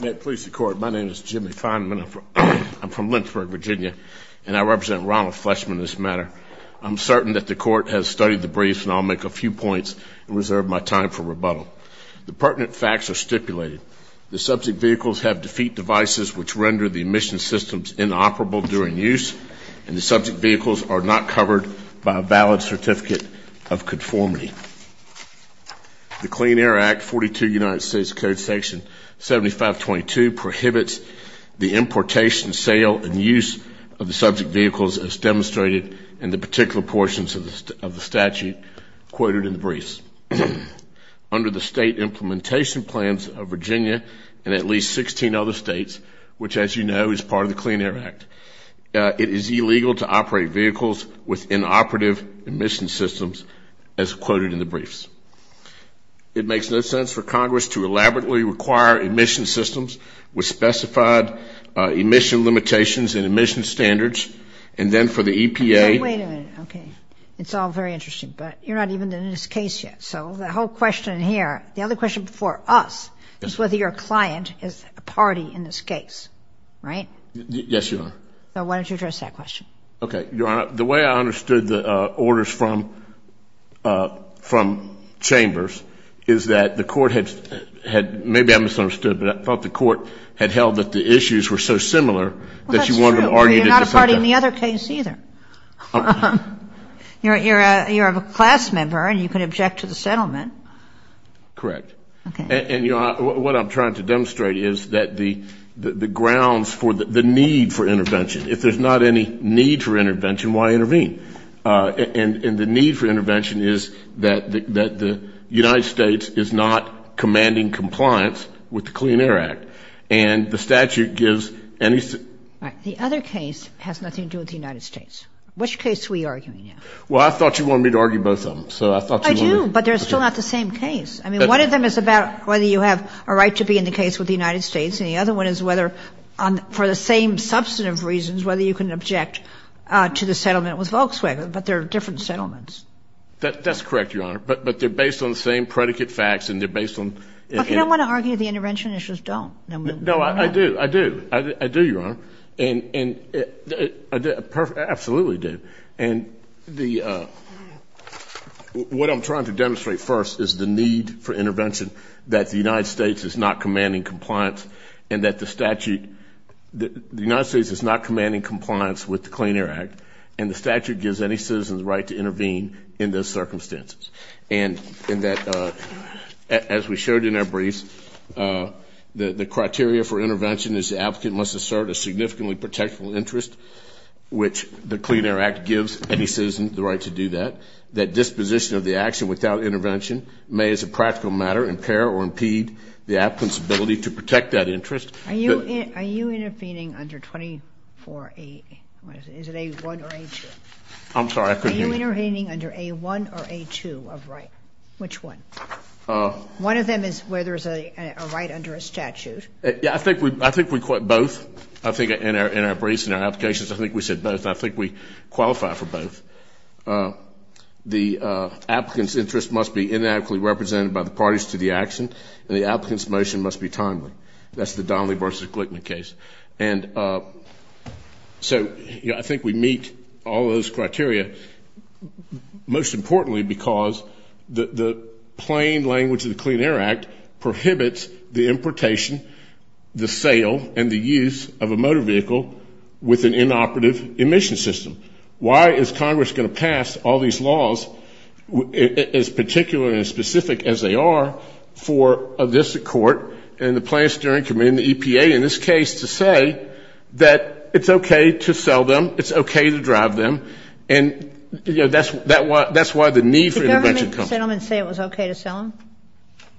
May it please the Court, my name is Jimmy Feinman. I'm from Lynchburg, Virginia, and I represent Ronald Fleshman in this matter. I'm certain that the Court has studied the briefs, and I'll make a few points and reserve my time for rebuttal. The pertinent facts are stipulated. The subject vehicles have defeat devices which render the emission systems inoperable during use, and the subject vehicles are not covered by a valid certificate of conformity. The Clean Air Act, 42 United States Code Section 7522 prohibits the importation, sale, and use of the subject vehicles as demonstrated in the particular portions of the statute quoted in the briefs. Under the state implementation plans of Virginia and at least 16 other states, which as you know is part of the Clean Air Act, it is illegal to operate vehicles with inoperative emission systems as quoted in the briefs. It makes no sense for Congress to elaborately require emission systems with specified emission limitations and emission standards, and then for the EPA. Wait a minute, okay. It's all very interesting, but you're not even in this case yet. So the whole question here, the other question before us is whether your client is a party in this case, right? Yes, Your Honor. Why don't you address that question? Okay. Your Honor, the way I understood the orders from Chambers is that the court had, maybe I misunderstood, but I thought the court had held that the issues were so similar that you wanted to argue it as a factor. Well, that's true, but you're not a party in the other case either. You're a class member, and you can object to the settlement. Correct. Okay. And, you know, what I'm trying to demonstrate is that the grounds for the need for intervention, if there's not any need for intervention, why intervene? And the need for intervention is that the United States is not commanding compliance with the Clean Air Act, and the statute gives any – All right. The other case has nothing to do with the United States. Which case are we arguing now? Well, I thought you wanted me to argue both of them, so I thought you wanted – I do, but they're still not the same case. I mean, one of them is about whether you have a right to be in the case with the United States, and the other one is whether, for the same substantive reasons, whether you can object to the settlement with Volkswagen, but they're different settlements. That's correct, Your Honor, but they're based on the same predicate facts, and they're based on – Okay. I don't want to argue the intervention issues don't. No, I do. I do. I do, Your Honor. And I absolutely do. And the – what I'm trying to demonstrate first is the need for intervention, that the United States is not commanding compliance, and that the statute – the United States is not commanding compliance with the Clean Air Act, and the statute gives any citizen the right to intervene in those circumstances, and that, as we showed in our briefs, the criteria for intervention is the applicant must assert a significantly protection interest, which the Clean Air Act gives any citizen the right to do that, that disposition of the action without intervention may, as a practical matter, impair or impede the applicant's ability to protect that interest. Are you intervening under 24A – is it A1 or A2? I'm sorry, I couldn't hear you. Are you intervening under A1 or A2 of right? Which one? One of them is where there's a right under a statute. Yeah, I think we – I think we – both. I think in our briefs and our applications, I think we said both, and I think we qualify for both. The applicant's interest must be inadequately represented by the parties to the action, and the applicant's motion must be timely. That's the Donnelly v. Glickman case. And so, you know, I think we meet all of those criteria, most importantly because the plain language of the Clean Air Act prohibits the importation, the sale, and the use of a motor vehicle with an inoperative emission system. Why is Congress going to pass all these laws, as particular and as specific as they are, for a district court and the Planned Steering Committee and the EPA, in this case, to say that it's okay to sell them, it's okay to drive them, and, you know, that's why the need for intervention comes. Did the government say it was okay to sell them?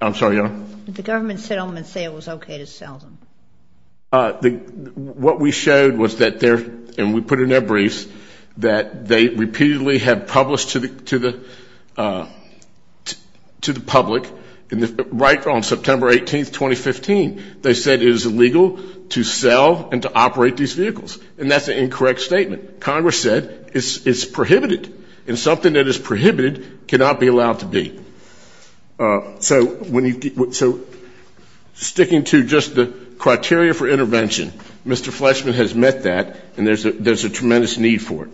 I'm sorry, Your Honor? Did the government say it was okay to sell them? What we showed was that there, and we put it in our briefs, that they repeatedly have published to the public, right on September 18, 2015, they said it is illegal to sell and to operate these vehicles, and that's an incorrect statement. Congress said it's prohibited, and something that is prohibited cannot be allowed to be. So sticking to just the criteria for intervention, Mr. Fletchman has met that, and there's a tremendous need for it.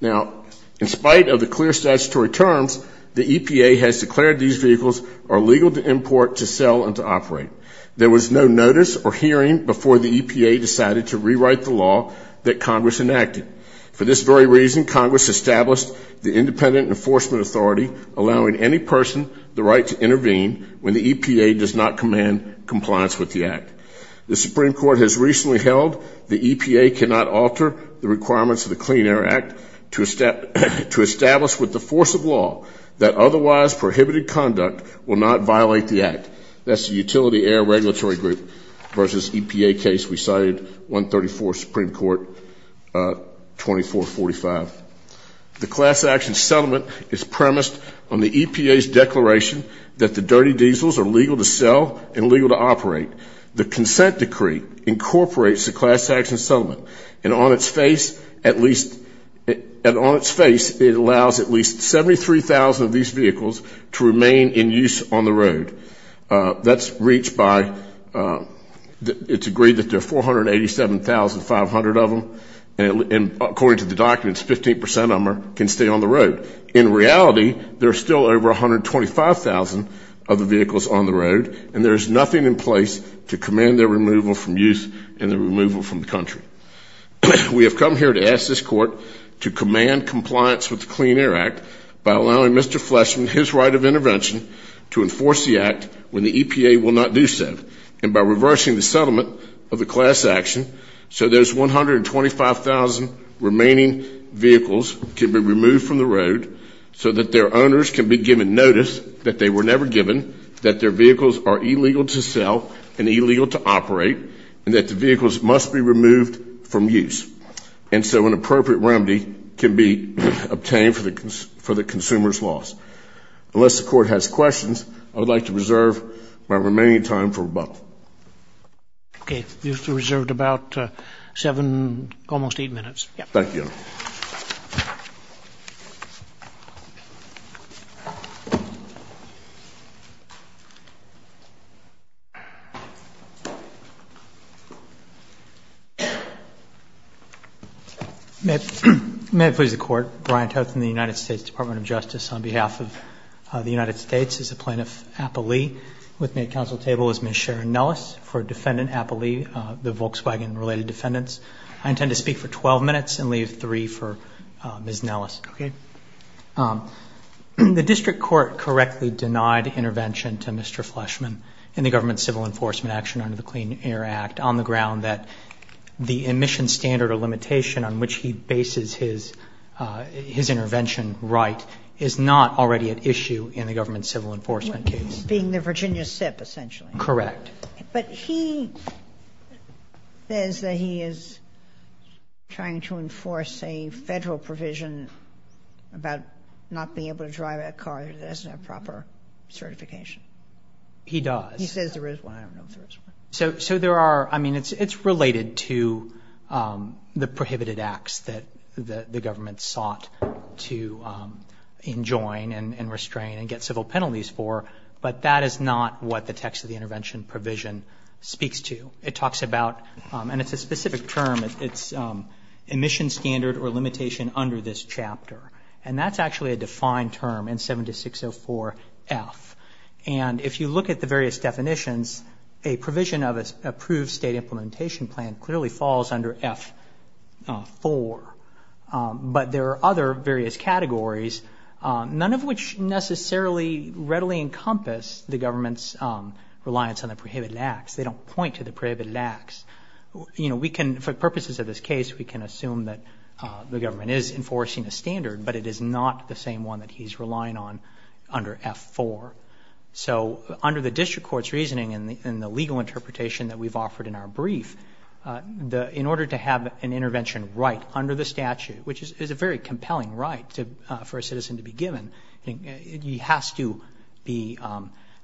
Now, in spite of the clear statutory terms, the EPA has declared these vehicles are illegal to import, to sell, and to operate. There was no notice or hearing before the EPA decided to rewrite the law that Congress enacted. For this very reason, Congress established the Independent Enforcement Authority, allowing any person the right to intervene when the EPA does not command compliance with the Act. The Supreme Court has recently held the EPA cannot alter the requirements of the Clean Air Act to establish with the force of law that otherwise prohibited conduct will not violate the Act. That's the Utility Air Regulatory Group versus EPA case we cited, 134, Supreme Court, 2445. The class action settlement is premised on the EPA's declaration that the dirty diesels are legal to sell and legal to operate. The consent decree incorporates the class action settlement, and on its face, at least, 73,000 of these vehicles to remain in use on the road. That's reached by, it's agreed that there are 487,500 of them, and according to the documents, 15% of them can stay on the road. In reality, there are still over 125,000 of the vehicles on the road, and there is nothing in place to command their removal from use and their removal from the country. We have come here to ask this Court to command compliance with the Clean Air Act by allowing Mr. Fleshman his right of intervention to enforce the Act when the EPA will not do so, and by reversing the settlement of the class action so those 125,000 remaining vehicles can be removed from the road so that their owners can be given notice that they were never given, that their vehicles are illegal to sell and illegal to operate, and that the vehicles must be removed from use, and so an appropriate remedy can be obtained for the consumer's loss. Unless the Court has questions, I would like to reserve my remaining time for rebuttal. Okay. You have reserved about seven, almost eight minutes. Thank you. May it please the Court. Brian Toth in the United States Department of Justice. On behalf of the United States, as a plaintiff, appellee. With me at council table is Ms. Sharon Nellis for defendant appellee, the Volkswagen-related defendants. I intend to speak for 12 minutes and leave three for Ms. Nellis. Okay. The district court correctly denied intervention to Mr. Fleshman in the government civil enforcement action under the Clean Air Act on the ground that the emission standard or limitation on which he bases his intervention right is not already at issue in the government civil enforcement case. Being the Virginia SIP, essentially. Correct. But he says that he is trying to enforce a Federal provision about not being able to drive a car that doesn't have proper certification. He does. He says there is one. I don't know if there is one. So there are, I mean, it's related to the prohibited acts that the government sought to enjoin and restrain and get civil penalties for, but that is not what the text of the intervention provision speaks to. It talks about, and it's a specific term, it's emission standard or limitation under this chapter. And that's actually a defined term in 7604F. And if you look at the various definitions, a provision of an approved state implementation plan clearly falls under F4. But there are other various categories, none of which necessarily readily encompass the government's reliance on the prohibited acts. They don't point to the prohibited acts. You know, we can, for purposes of this case, we can assume that the government is enforcing a standard, but it is not the same one that he's relying on under F4. So under the district court's reasoning and the legal interpretation that we've offered in our brief, in order to have an intervention right under the statute, which is a very compelling right for a citizen to be given, he has to be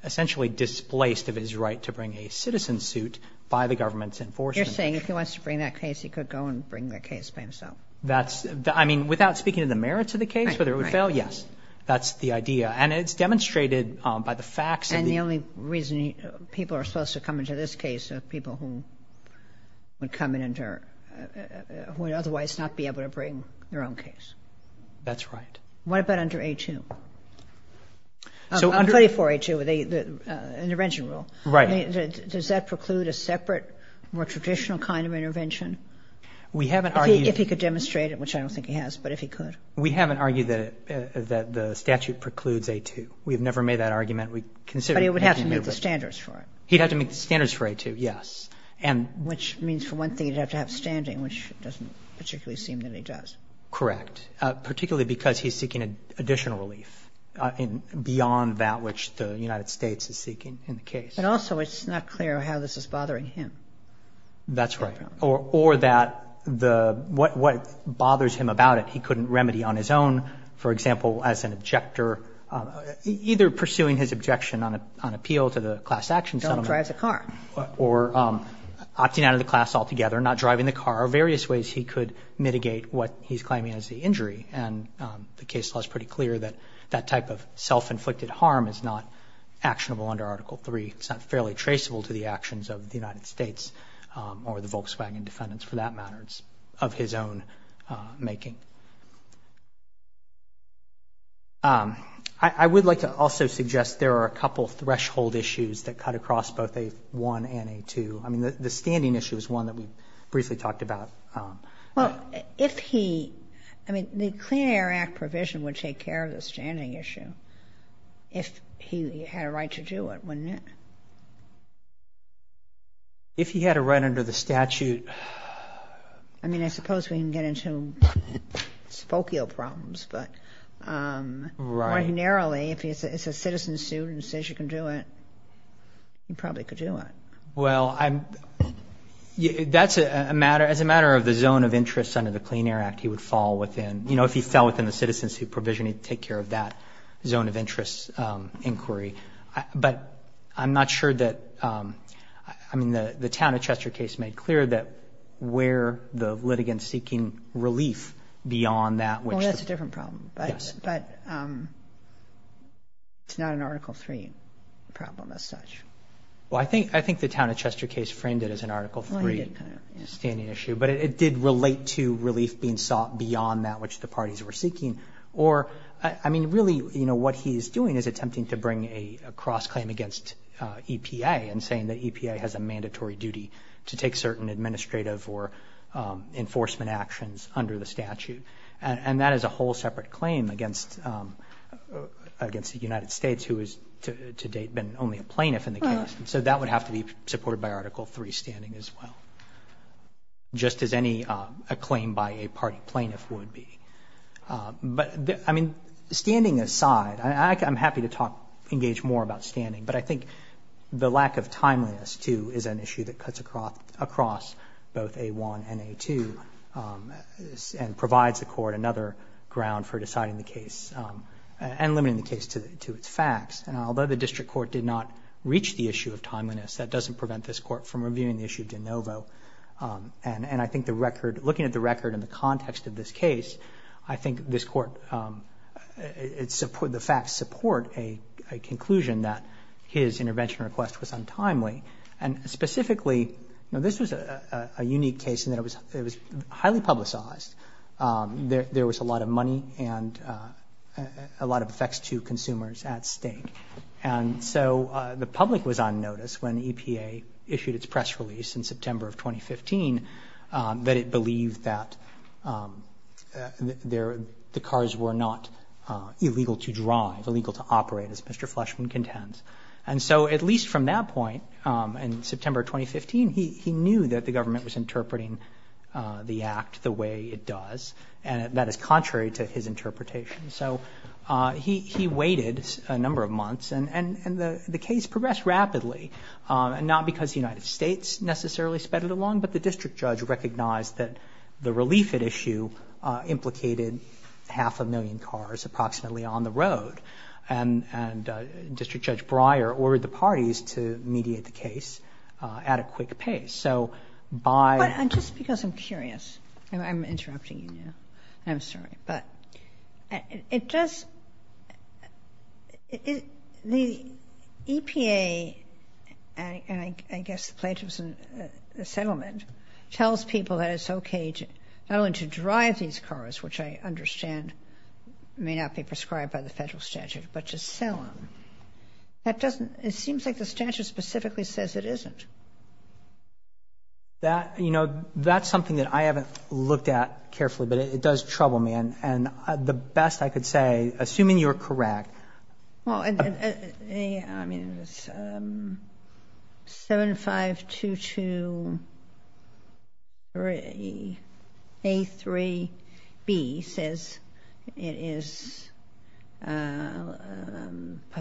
essentially displaced of his right to bring a citizen suit by the government's enforcement. You're saying if he wants to bring that case, he could go and bring the case by himself? That's, I mean, without speaking to the merits of the case, whether it would fail, yes. That's the idea. And it's demonstrated by the facts. And the only reason people are supposed to come into this case are people who would otherwise not be able to bring their own case. That's right. What about under A2? Under 34A2, the intervention rule. Right. Does that preclude a separate, more traditional kind of intervention? If he could demonstrate it, which I don't think he has, but if he could. We haven't argued that the statute precludes A2. We have never made that argument. But he would have to meet the standards for it. He'd have to meet the standards for A2, yes. Which means, for one thing, he'd have to have standing, which doesn't particularly seem that he does. Correct. Particularly because he's seeking additional relief beyond that which the United States is seeking in the case. But also it's not clear how this is bothering him. That's right. Or that what bothers him about it he couldn't remedy on his own. For example, as an objector, either pursuing his objection on appeal to the class action settlement. Don't drive the car. Or opting out of the class altogether, not driving the car. There are various ways he could mitigate what he's claiming is the injury. And the case law is pretty clear that that type of self-inflicted harm is not actionable under Article III. It's not fairly traceable to the actions of the United States or the Volkswagen defendants, for that matter. It's of his own making. I would like to also suggest there are a couple threshold issues that cut across both A1 and A2. I mean, the standing issue is one that we briefly talked about. Well, if he, I mean, the Clean Air Act provision would take care of the standing issue if he had a right to do it, wouldn't it? If he had a right under the statute. I mean, I suppose we can get into spokio problems. But ordinarily, if it's a citizen's suit and it says you can do it, you probably could do it. Well, that's a matter of the zone of interest under the Clean Air Act he would fall within. You know, if he fell within the citizen's suit provision, he'd take care of that zone of interest inquiry. But I'm not sure that, I mean, the Town of Chester case made clear that where the litigants seeking relief beyond that. Well, that's a different problem. Yes. But it's not an Article III problem as such. Well, I think the Town of Chester case framed it as an Article III standing issue. But it did relate to relief being sought beyond that which the parties were seeking. Or, I mean, really, you know, what he is doing is attempting to bring a cross claim against EPA and saying that EPA has a mandatory duty to take certain administrative or enforcement actions under the statute. And that is a whole separate claim against the United States who has to date been only a plaintiff in the case. So that would have to be supported by Article III standing as well. Just as any claim by a party plaintiff would be. But, I mean, standing aside, I'm happy to talk, engage more about standing. But I think the lack of timeliness, too, is an issue that cuts across both A1 and A2 and provides the court another ground for deciding the case and limiting the case to its facts. And although the district court did not reach the issue of timeliness, that And I think the record, looking at the record in the context of this case, I think this court, the facts support a conclusion that his intervention request was untimely. And specifically, this was a unique case in that it was highly publicized. There was a lot of money and a lot of effects to consumers at stake. And so the public was on notice when EPA issued its press release in September of 2015 that it believed that the cars were not illegal to drive, illegal to operate, as Mr. Fleshman contends. And so at least from that point in September of 2015, he knew that the government was interpreting the act the way it does, and that is contrary to his interpretation. So he waited a number of months. And the case progressed rapidly, not because the United States necessarily sped it along, but the district judge recognized that the relief at issue implicated half a million cars approximately on the road. And District Judge Breyer ordered the parties to mediate the case at a quick pace. So by... But just because I'm curious, I'm interrupting you now. I'm sorry. But it does... The EPA, and I guess the plaintiffs in the settlement, tells people that it's okay not only to drive these cars, which I understand may not be prescribed by the federal statute, but to sell them. That doesn't... It seems like the statute specifically says it isn't. You know, that's something that I haven't looked at carefully, but it does trouble me. And the best I could say, assuming you're correct... Well, I mean, 75223A3B says it is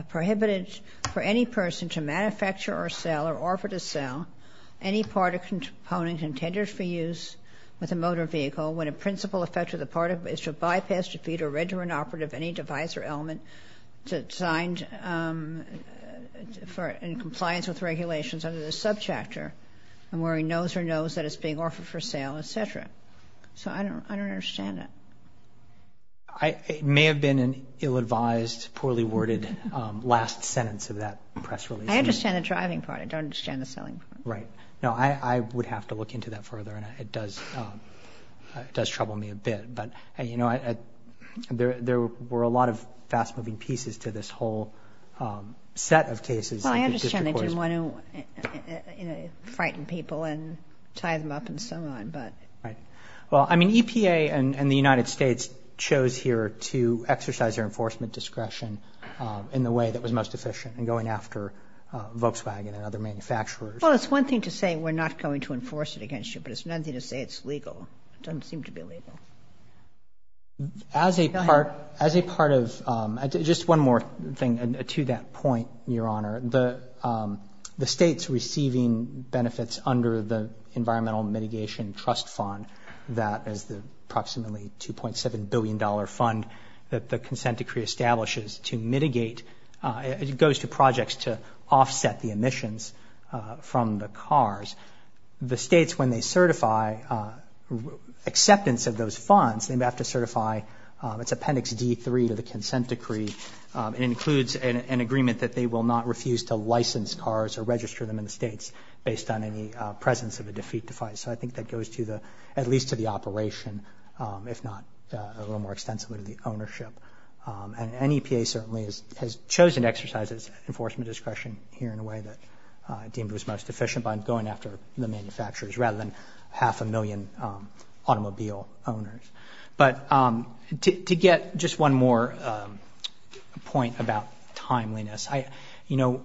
prohibited for any person to manufacture or sell or offer to sell any part or component intended for use with a motor vehicle when a principal effect of the part is to bypass, defeat, or render inoperative any device or element designed for compliance with regulations under the subchapter, and where he knows or knows that it's being offered for sale, etc. So I don't understand it. It may have been an ill-advised, poorly worded last sentence of that press release. I understand the driving part. I don't understand the selling part. Right. No, I would have to look into that further, and it does trouble me a bit. But, you know, there were a lot of fast-moving pieces to this whole set of cases. Well, I understand that you want to frighten people and tie them up and so on, but... Right. Well, I mean, EPA and the United States chose here to exercise their enforcement discretion in the way that was most efficient in going after Volkswagen and other manufacturers. Well, it's one thing to say we're not going to enforce it against you, but it's another thing to say it's legal. It doesn't seem to be legal. Go ahead. As a part of — just one more thing to that point, Your Honor. The State's receiving benefits under the Environmental Mitigation Trust Fund, that is the approximately $2.7 billion fund that the consent decree establishes to mitigate — it goes to projects to offset the emissions from the cars. The states, when they certify acceptance of those funds, they have to certify its Appendix D3 to the consent decree. It includes an agreement that they will not refuse to license cars or register them in the states based on any presence of a defeat device. So I think that goes to the — at least to the operation, if not a little more extensively to the ownership. And NEPA certainly has chosen to exercise its enforcement discretion here in a way that deemed it was most efficient by going after the manufacturers rather than half a million automobile owners. But to get just one more point about timeliness, you know,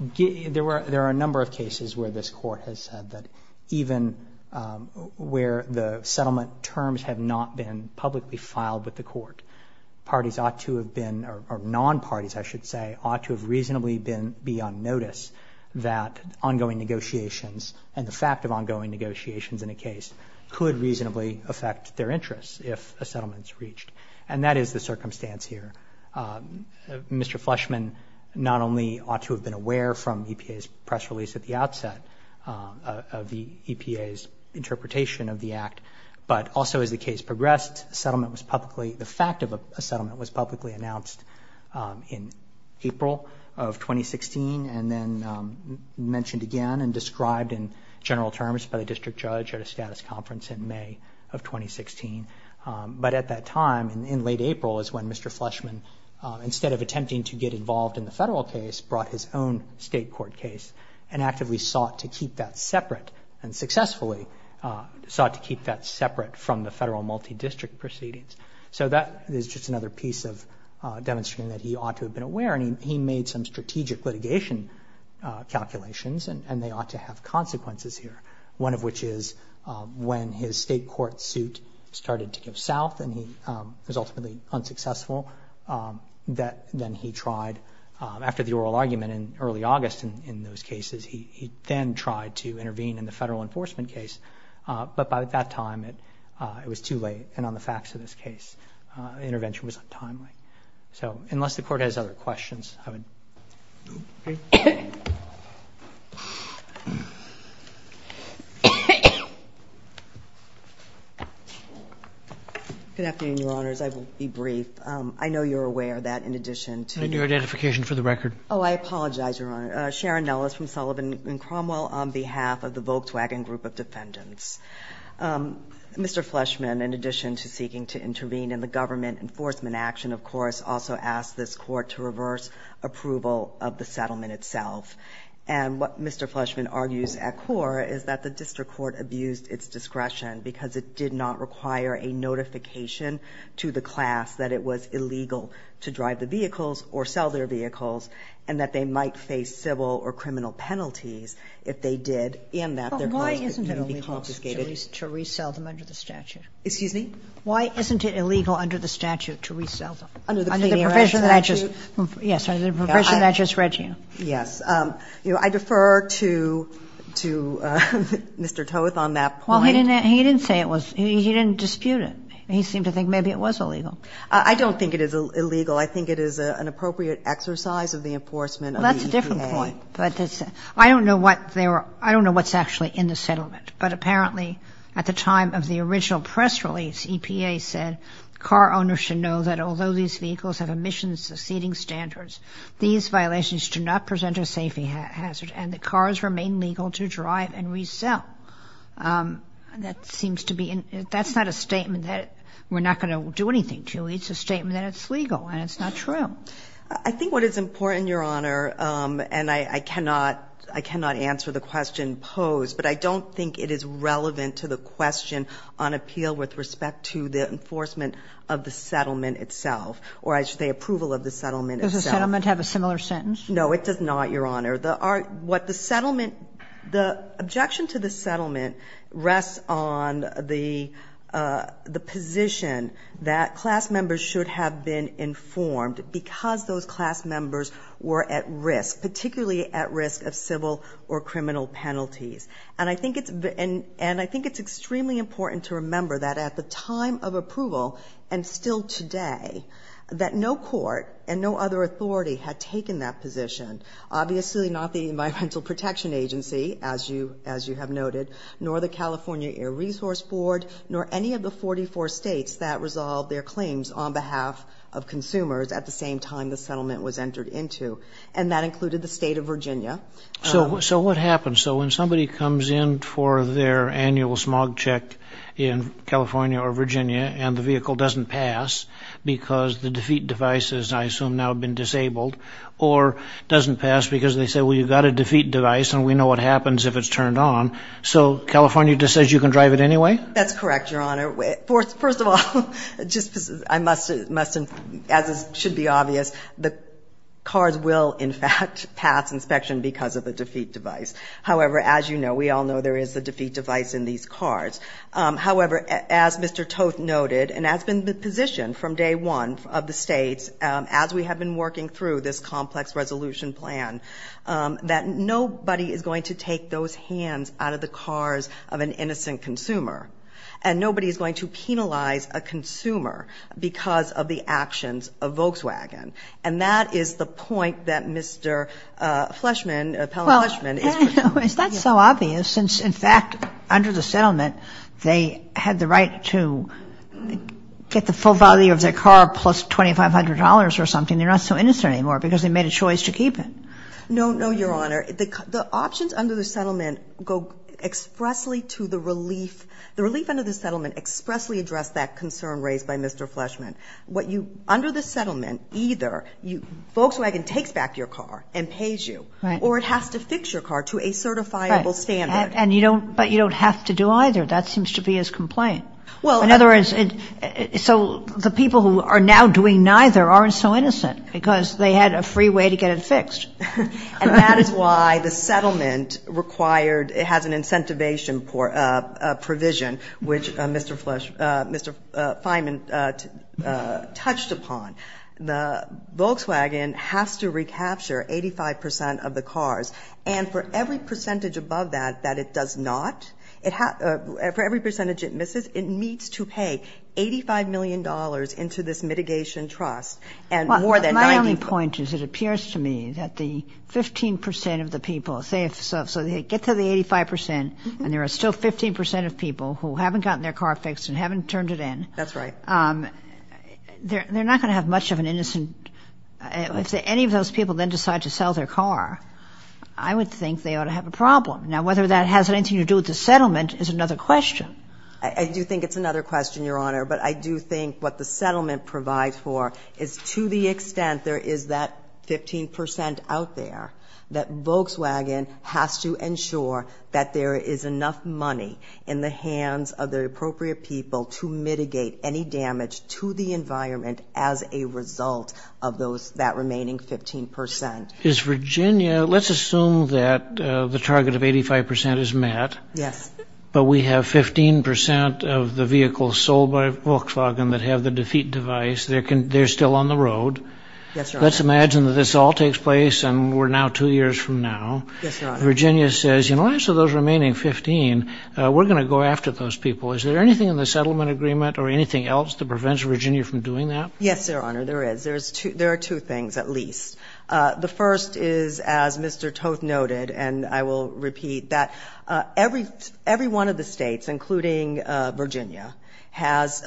there are a number of cases where this Court has said that even where the parties ought to have been — or non-parties, I should say, ought to have reasonably been beyond notice that ongoing negotiations and the fact of ongoing negotiations in a case could reasonably affect their interests if a settlement is reached. And that is the circumstance here. Mr. Fleschman not only ought to have been aware from EPA's press release at the outset of the EPA's interpretation of the Act, but also as the case progressed, a settlement was publicly — the fact of a settlement was publicly announced in April of 2016 and then mentioned again and described in general terms by the district judge at a status conference in May of 2016. But at that time, in late April, is when Mr. Fleschman, instead of attempting to get involved in the federal case, brought his own state court case and actively sought to keep that separate and successfully sought to keep that separate from the federal multidistrict proceedings. So that is just another piece of demonstrating that he ought to have been aware. And he made some strategic litigation calculations, and they ought to have consequences here, one of which is when his state court suit started to go south and he was ultimately unsuccessful, that then he tried — after the oral argument in early August in those cases, he then tried to intervene in the federal enforcement case. But by that time, it was too late. And on the facts of this case, intervention was untimely. So unless the Court has other questions, I would — Okay. Good afternoon, Your Honors. I will be brief. I know you're aware that in addition to — Can I do identification for the record? Oh, I apologize, Your Honor. Sharon Nellis from Sullivan & Cromwell on behalf of the Volkswagen Group of Defendants. Mr. Fleschman, in addition to seeking to intervene in the government enforcement action, of course, also asked this Court to reverse approval of the settlement itself. And what Mr. Fleschman argues at core is that the district court abused its discretion because it did not require a notification to the class that it was illegal to drive the vehicles or sell their vehicles, and that they might face civil or criminal penalties if they did, and that their cause could be confiscated. But why isn't it illegal to resell them under the statute? Excuse me? Why isn't it illegal under the statute to resell them? Under the Canadian statute? Under the profession that I just — yes, under the profession that I just read to you. Yes. You know, I defer to — to Mr. Toth on that point. Well, he didn't — he didn't say it was — he didn't dispute it. He seemed to think maybe it was illegal. I don't think it is illegal. I think it is an appropriate exercise of the enforcement of the EPA. Well, that's a different point. But it's — I don't know what they were — I don't know what's actually in the settlement. But apparently, at the time of the original press release, EPA said car owners should know that although these vehicles have emissions exceeding standards, these violations do not present a safety hazard, and that cars remain legal to drive and resell. That seems to be — that's not a statement that we're not going to do anything to. It's a statement that it's legal, and it's not true. I think what is important, Your Honor, and I cannot — I cannot answer the question posed, but I don't think it is relevant to the question on appeal with respect to the enforcement of the settlement itself, or I should say approval of the settlement itself. Does the settlement have a similar sentence? No, it does not, Your Honor. The settlement — the objection to the settlement rests on the position that class members should have been informed because those class members were at risk, particularly at risk of civil or criminal penalties. And I think it's — and I think it's extremely important to remember that at the time of approval, and still today, that no court and no other authority had taken that position. Obviously, not the Environmental Protection Agency, as you — as you have noted, nor the California Air Resource Board, nor any of the 44 states that resolved their claims on behalf of consumers at the same time the settlement was entered into, and that included the state of Virginia. So what happens? So when somebody comes in for their annual smog check in California or Virginia and the I assume now have been disabled, or doesn't pass because they say, well, you've got a defeat device and we know what happens if it's turned on, so California just says you can drive it anyway? That's correct, Your Honor. First of all, just — I must — as should be obvious, the cars will, in fact, pass inspection because of the defeat device. However, as you know, we all know there is a defeat device in these cars. However, as Mr. Toth noted, and that's been the position from day one of the states as we have been working through this complex resolution plan, that nobody is going to take those hands out of the cars of an innocent consumer, and nobody is going to penalize a consumer because of the actions of Volkswagen. And that is the point that Mr. Fleschman, Appellant Fleschman, is pursuing. No, it's not so obvious. In fact, under the settlement, they had the right to get the full value of their car plus $2,500 or something. They're not so innocent anymore because they made a choice to keep it. No, no, Your Honor. The options under the settlement go expressly to the relief — the relief under the settlement expressly addressed that concern raised by Mr. Fleschman. Under the settlement, either Volkswagen takes back your car and pays you, or it has to fix your car to a certifiable standard. Right. And you don't — but you don't have to do either. That seems to be his complaint. Well — In other words, so the people who are now doing neither aren't so innocent because they had a free way to get it fixed. And that is why the settlement required — it has an incentivization provision, which Mr. Flesch — Mr. Feynman touched upon. The Volkswagen has to recapture 85 percent of the cars. And for every percentage above that that it does not, it — for every percentage it misses, it needs to pay $85 million into this mitigation trust and more than 90 — My only point is it appears to me that the 15 percent of the people — say if — so they get to the 85 percent, and there are still 15 percent of people who haven't gotten their car fixed and haven't turned it in — That's right. — they're not going to have much of an innocent — if any of those people then decide to sell their car, I would think they ought to have a problem. Now, whether that has anything to do with the settlement is another question. I do think it's another question, Your Honor. But I do think what the settlement provides for is to the extent there is that 15 percent out there, that Volkswagen has to ensure that there is enough money in the environment as a result of that remaining 15 percent. Is Virginia — let's assume that the target of 85 percent is met. Yes. But we have 15 percent of the vehicles sold by Volkswagen that have the defeat device. They're still on the road. Yes, Your Honor. Let's imagine that this all takes place and we're now two years from now. Yes, Your Honor. Virginia says, you know, as for those remaining 15, we're going to go after those people. Is there anything in the settlement agreement or anything else that prevents Virginia from doing that? Yes, Your Honor, there is. There are two things, at least. The first is, as Mr. Toth noted, and I will repeat, that every one of the states, including Virginia, has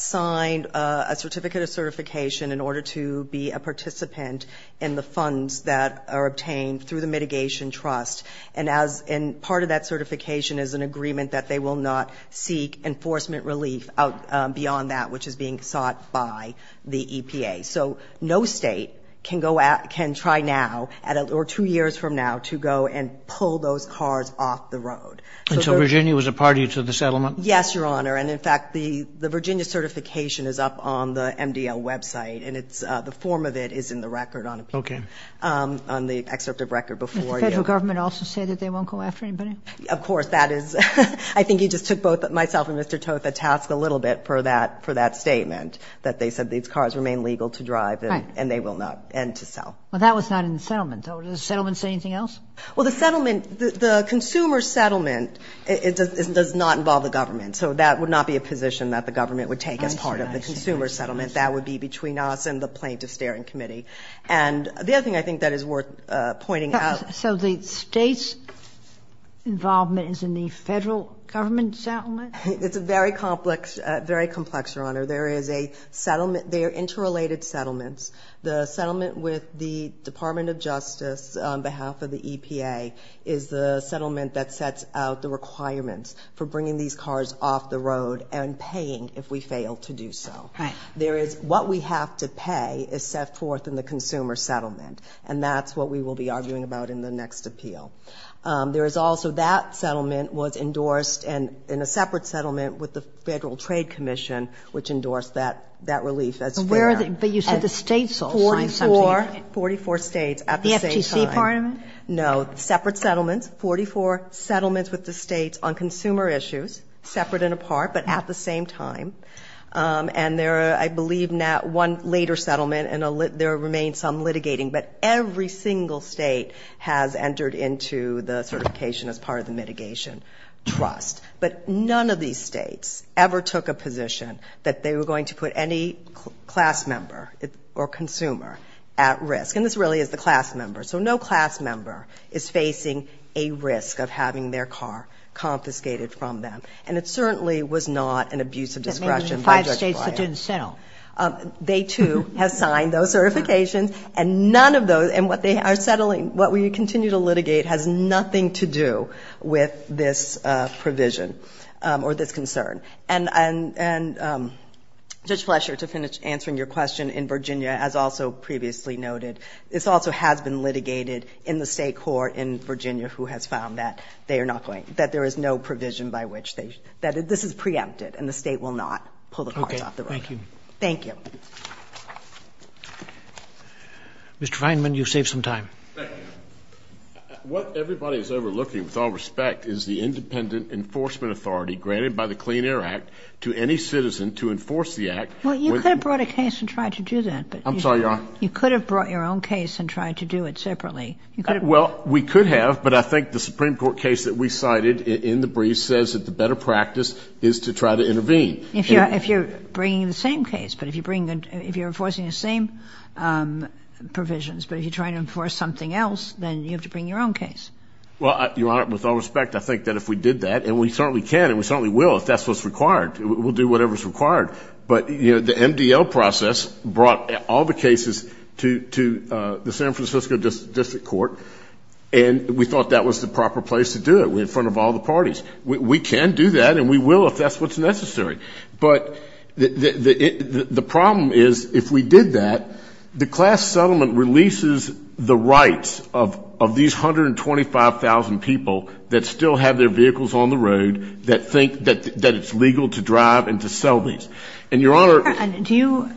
signed a certificate of certification in order to be a participant in the funds that are obtained through the Mitigation Trust. And part of that certification is an agreement that they will not seek enforcement relief beyond that, which is being sought by the EPA. So no state can try now, or two years from now, to go and pull those cars off the road. And so Virginia was a party to the settlement? Yes, Your Honor. And, in fact, the Virginia certification is up on the MDL website, and the form of it is in the record on the excerpt of record before you. Did the government also say that they won't go after anybody? Of course. That is — I think you just took both myself and Mr. Toth at task a little bit for that statement, that they said these cars remain legal to drive and they will not end to sell. Right. Well, that was not in the settlement. Does the settlement say anything else? Well, the settlement — the consumer settlement does not involve the government, so that would not be a position that the government would take as part of the consumer settlement. That would be between us and the plaintiff's steering committee. And the other thing I think that is worth pointing out — So the state's involvement is in the federal government settlement? It's a very complex — very complex, Your Honor. There is a settlement — they are interrelated settlements. The settlement with the Department of Justice on behalf of the EPA is the settlement that sets out the requirements for bringing these cars off the road and paying if we fail to do so. Right. There is — what we have to pay is set forth in the consumer settlement, and that's what we will be arguing about in the next appeal. There is also — that settlement was endorsed in a separate settlement with the Federal Trade Commission, which endorsed that relief as fair. But where are the — but you said the states all signed something. Forty-four. Forty-four states at the same time. The FTC part of it? No. Separate settlements. Forty-four settlements with the states on consumer issues, separate and apart, but at the same time. And there are, I believe, one later settlement, and there remains some litigating. But every single state has entered into the certification as part of the mitigation trust. But none of these states ever took a position that they were going to put any class member or consumer at risk. And this really is the class member. So no class member is facing a risk of having their car confiscated from them. And it certainly was not an abuse of discretion by Judge Breyer. But maybe the five states that didn't settle. They, too, have signed those certifications. And none of those — and what they are settling, what we continue to litigate, has nothing to do with this provision or this concern. And, Judge Fletcher, to finish answering your question, in Virginia, as also previously noted, this also has been litigated in the state court in Virginia who has found that they are not going — that there is no provision by which they — that this is preempted and the state will not pull the cards off the table. Thank you. Mr. Feinman, you saved some time. What everybody is overlooking, with all respect, is the independent enforcement authority granted by the Clean Air Act to any citizen to enforce the act. Well, you could have brought a case and tried to do that. I'm sorry, Your Honor? You could have brought your own case and tried to do it separately. Well, we could have. But I think the Supreme Court case that we cited in the brief says that the better practice is to try to intervene. If you're bringing the same case, but if you bring — if you're enforcing the same provisions, but if you're trying to enforce something else, then you have to bring your own case. Well, Your Honor, with all respect, I think that if we did that — and we certainly can and we certainly will if that's what's required. We'll do whatever's required. But, you know, the MDL process brought all the cases to the San Francisco District Court, and we thought that was the proper place to do it in front of all the parties. We can do that, and we will if that's what's necessary. But the problem is, if we did that, the class settlement releases the rights of these 125,000 people that still have their vehicles on the road, that think that it's legal to drive and to sell these. And, Your Honor — Your Honor, do you —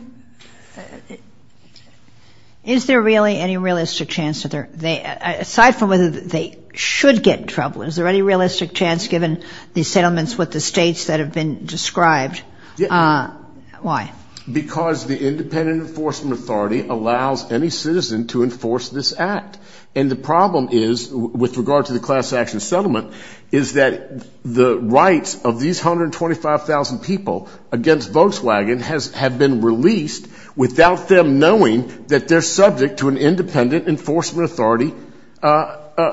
is there really any realistic chance that they're — aside from whether they should get in trouble, is there any realistic chance given the settlements with the states that have been described? Yeah. Why? Because the Independent Enforcement Authority allows any citizen to enforce this act. And the problem is, with regard to the class action settlement, is that the rights of these 125,000 people against Volkswagen have been released without them knowing that they're subject to an Independent Enforcement Authority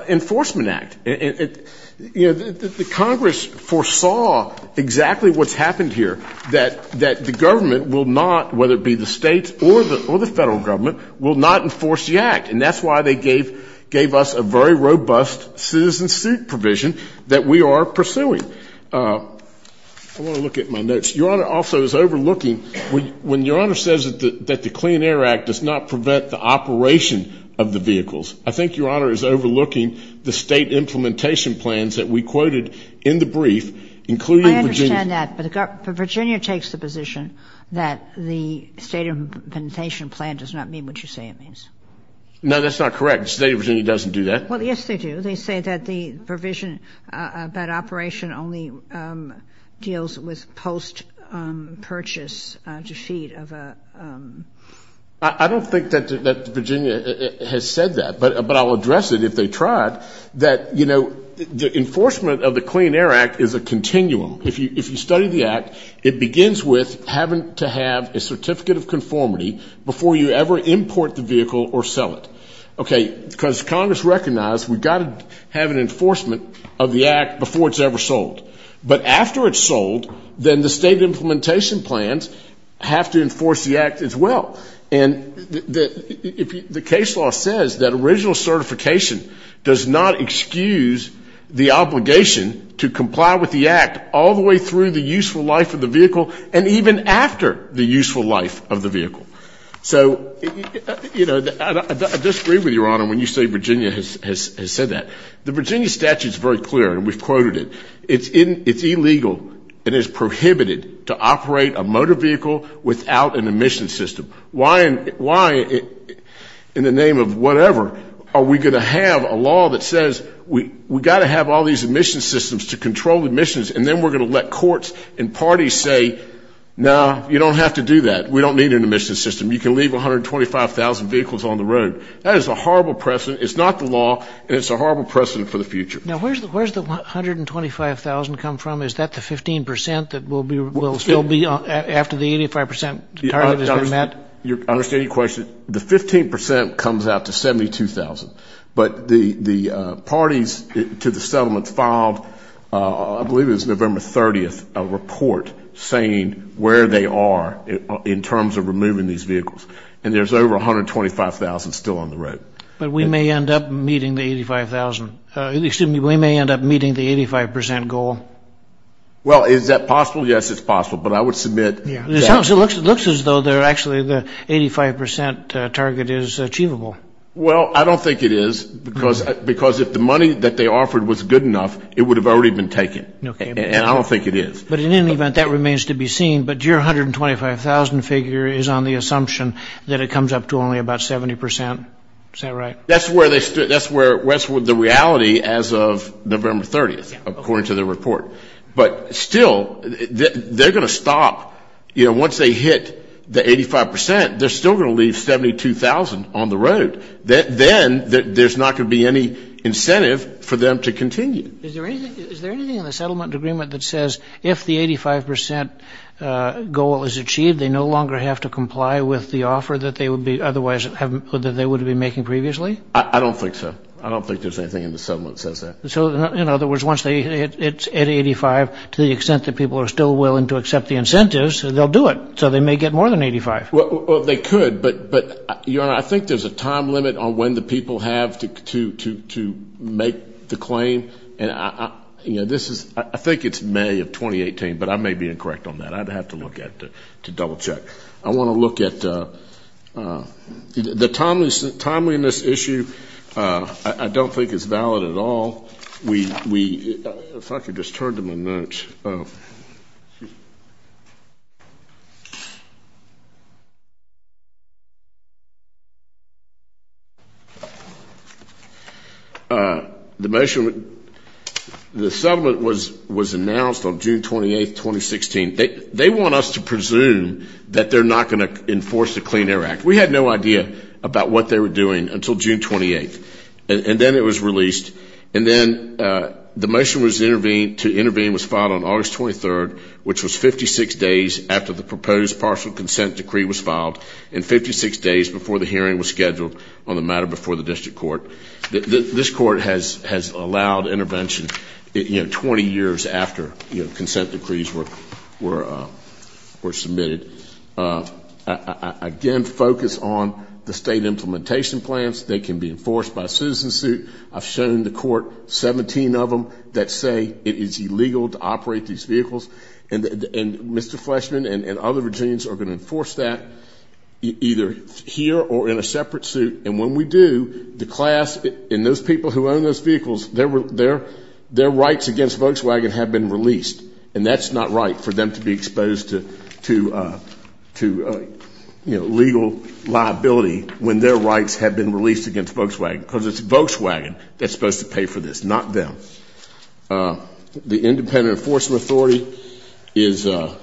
Enforcement Act. And, you know, the Congress foresaw exactly what's happened here, that the government will not — whether it be the states or the federal government — will not enforce the act. And that's why they gave us a very robust citizen suit provision that we are pursuing. I want to look at my notes. Your Honor also is overlooking — when Your Honor says that the Clean Air Act does not prevent the operation of the vehicles, I think Your Honor is overlooking the state implementation plans that we quoted in the brief, including Virginia's — I understand that. But Virginia takes the position that the state implementation plan does not mean what you say it means. No, that's not correct. The state of Virginia doesn't do that. Well, yes, they do. They say that the provision about operation only deals with post-purchase to feed of a — I don't think that Virginia has said that, but I'll address it if they tried, that, you know, the enforcement of the Clean Air Act is a continuum. If you study the act, it begins with having to have a certificate of conformity before you ever import the vehicle or sell it. Okay, because Congress recognized we've got to have an enforcement of the act before it's ever sold. But after it's sold, then the state implementation plans have to enforce the And the case law says that original certification does not excuse the obligation to comply with the act all the way through the useful life of the vehicle and even after the useful life of the vehicle. So, you know, I disagree with Your Honor when you say Virginia has said that. The Virginia statute is very clear, and we've quoted it. It's illegal and is prohibited to operate a motor vehicle without an emission system. Why in the name of whatever are we going to have a law that says we've got to have all these emission systems to control emissions, and then we're going to let courts and parties say, no, you don't have to do that. We don't need an emission system. You can leave 125,000 vehicles on the road. That is a horrible precedent. It's not the law, and it's a horrible precedent for the future. Now, where's the 125,000 come from? Is that the 15% that will still be after the 85% target has been met? I understand your question. The 15% comes out to 72,000. But the parties to the settlement filed, I believe it was November 30th, a report saying where they are in terms of removing these vehicles, and there's over 125,000 still on the road. But we may end up meeting the 85,000. Excuse me. We may end up meeting the 85% goal. Well, is that possible? Yes, it's possible. But I would submit that. It looks as though actually the 85% target is achievable. Well, I don't think it is because if the money that they offered was good enough, it would have already been taken. And I don't think it is. But in any event, that remains to be seen. But your 125,000 figure is on the assumption that it comes up to only about 70%. Is that right? That's the reality as of November 30th, according to the report. But still, they're going to stop. Once they hit the 85%, they're still going to leave 72,000 on the road. Then there's not going to be any incentive for them to continue. Is there anything in the settlement agreement that says if the 85% goal is achieved, they no longer have to comply with the offer that they would be making previously? I don't think so. I don't think there's anything in the settlement that says that. So, in other words, once it's at 85, to the extent that people are still willing to accept the incentives, they'll do it. So they may get more than 85. Well, they could. I think there's a time limit on when the people have to make the claim. I think it's May of 2018, but I may be incorrect on that. I'd have to look at it to double check. I want to look at the timeliness issue. I don't think it's valid at all. If I could just turn to my notes. The measurement, the settlement was announced on June 28, 2016. They want us to presume that they're not going to enforce the Clean Air Act. We had no idea about what they were doing until June 28. And then it was released. And then the motion to intervene was filed on August 23rd, which was 56 days after the proposed partial consent decree was filed and 56 days before the hearing was scheduled on the matter before the district court. This court has allowed intervention 20 years after consent decrees were submitted. Again, focus on the state implementation plans. They can be enforced by a citizen suit. I've shown the court 17 of them that say it is illegal to operate these vehicles. And Mr. Fleshman and other Virginians are going to enforce that either here or in a separate suit. And when we do, the class and those people who own those vehicles, their rights against Volkswagen have been released. And that's not right for them to be exposed to legal liability when their rights have been released against Volkswagen, because it's Volkswagen that's supposed to pay for this, not them. The independent enforcement authority is the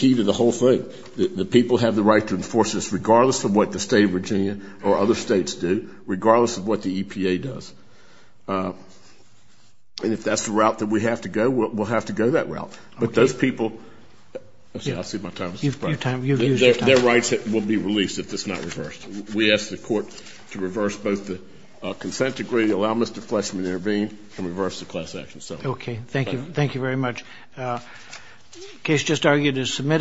key to the whole thing. The people have the right to enforce this regardless of what the state of Virginia or other states do, regardless of what the EPA does. And if that's the route that we have to go, we'll have to go that route. But those people, their rights will be released if it's not reversed. We ask the court to reverse both the consent decree, allow Mr. Fleshman to intervene, and reverse the class action. Okay, thank you very much. The case just argued is submitted.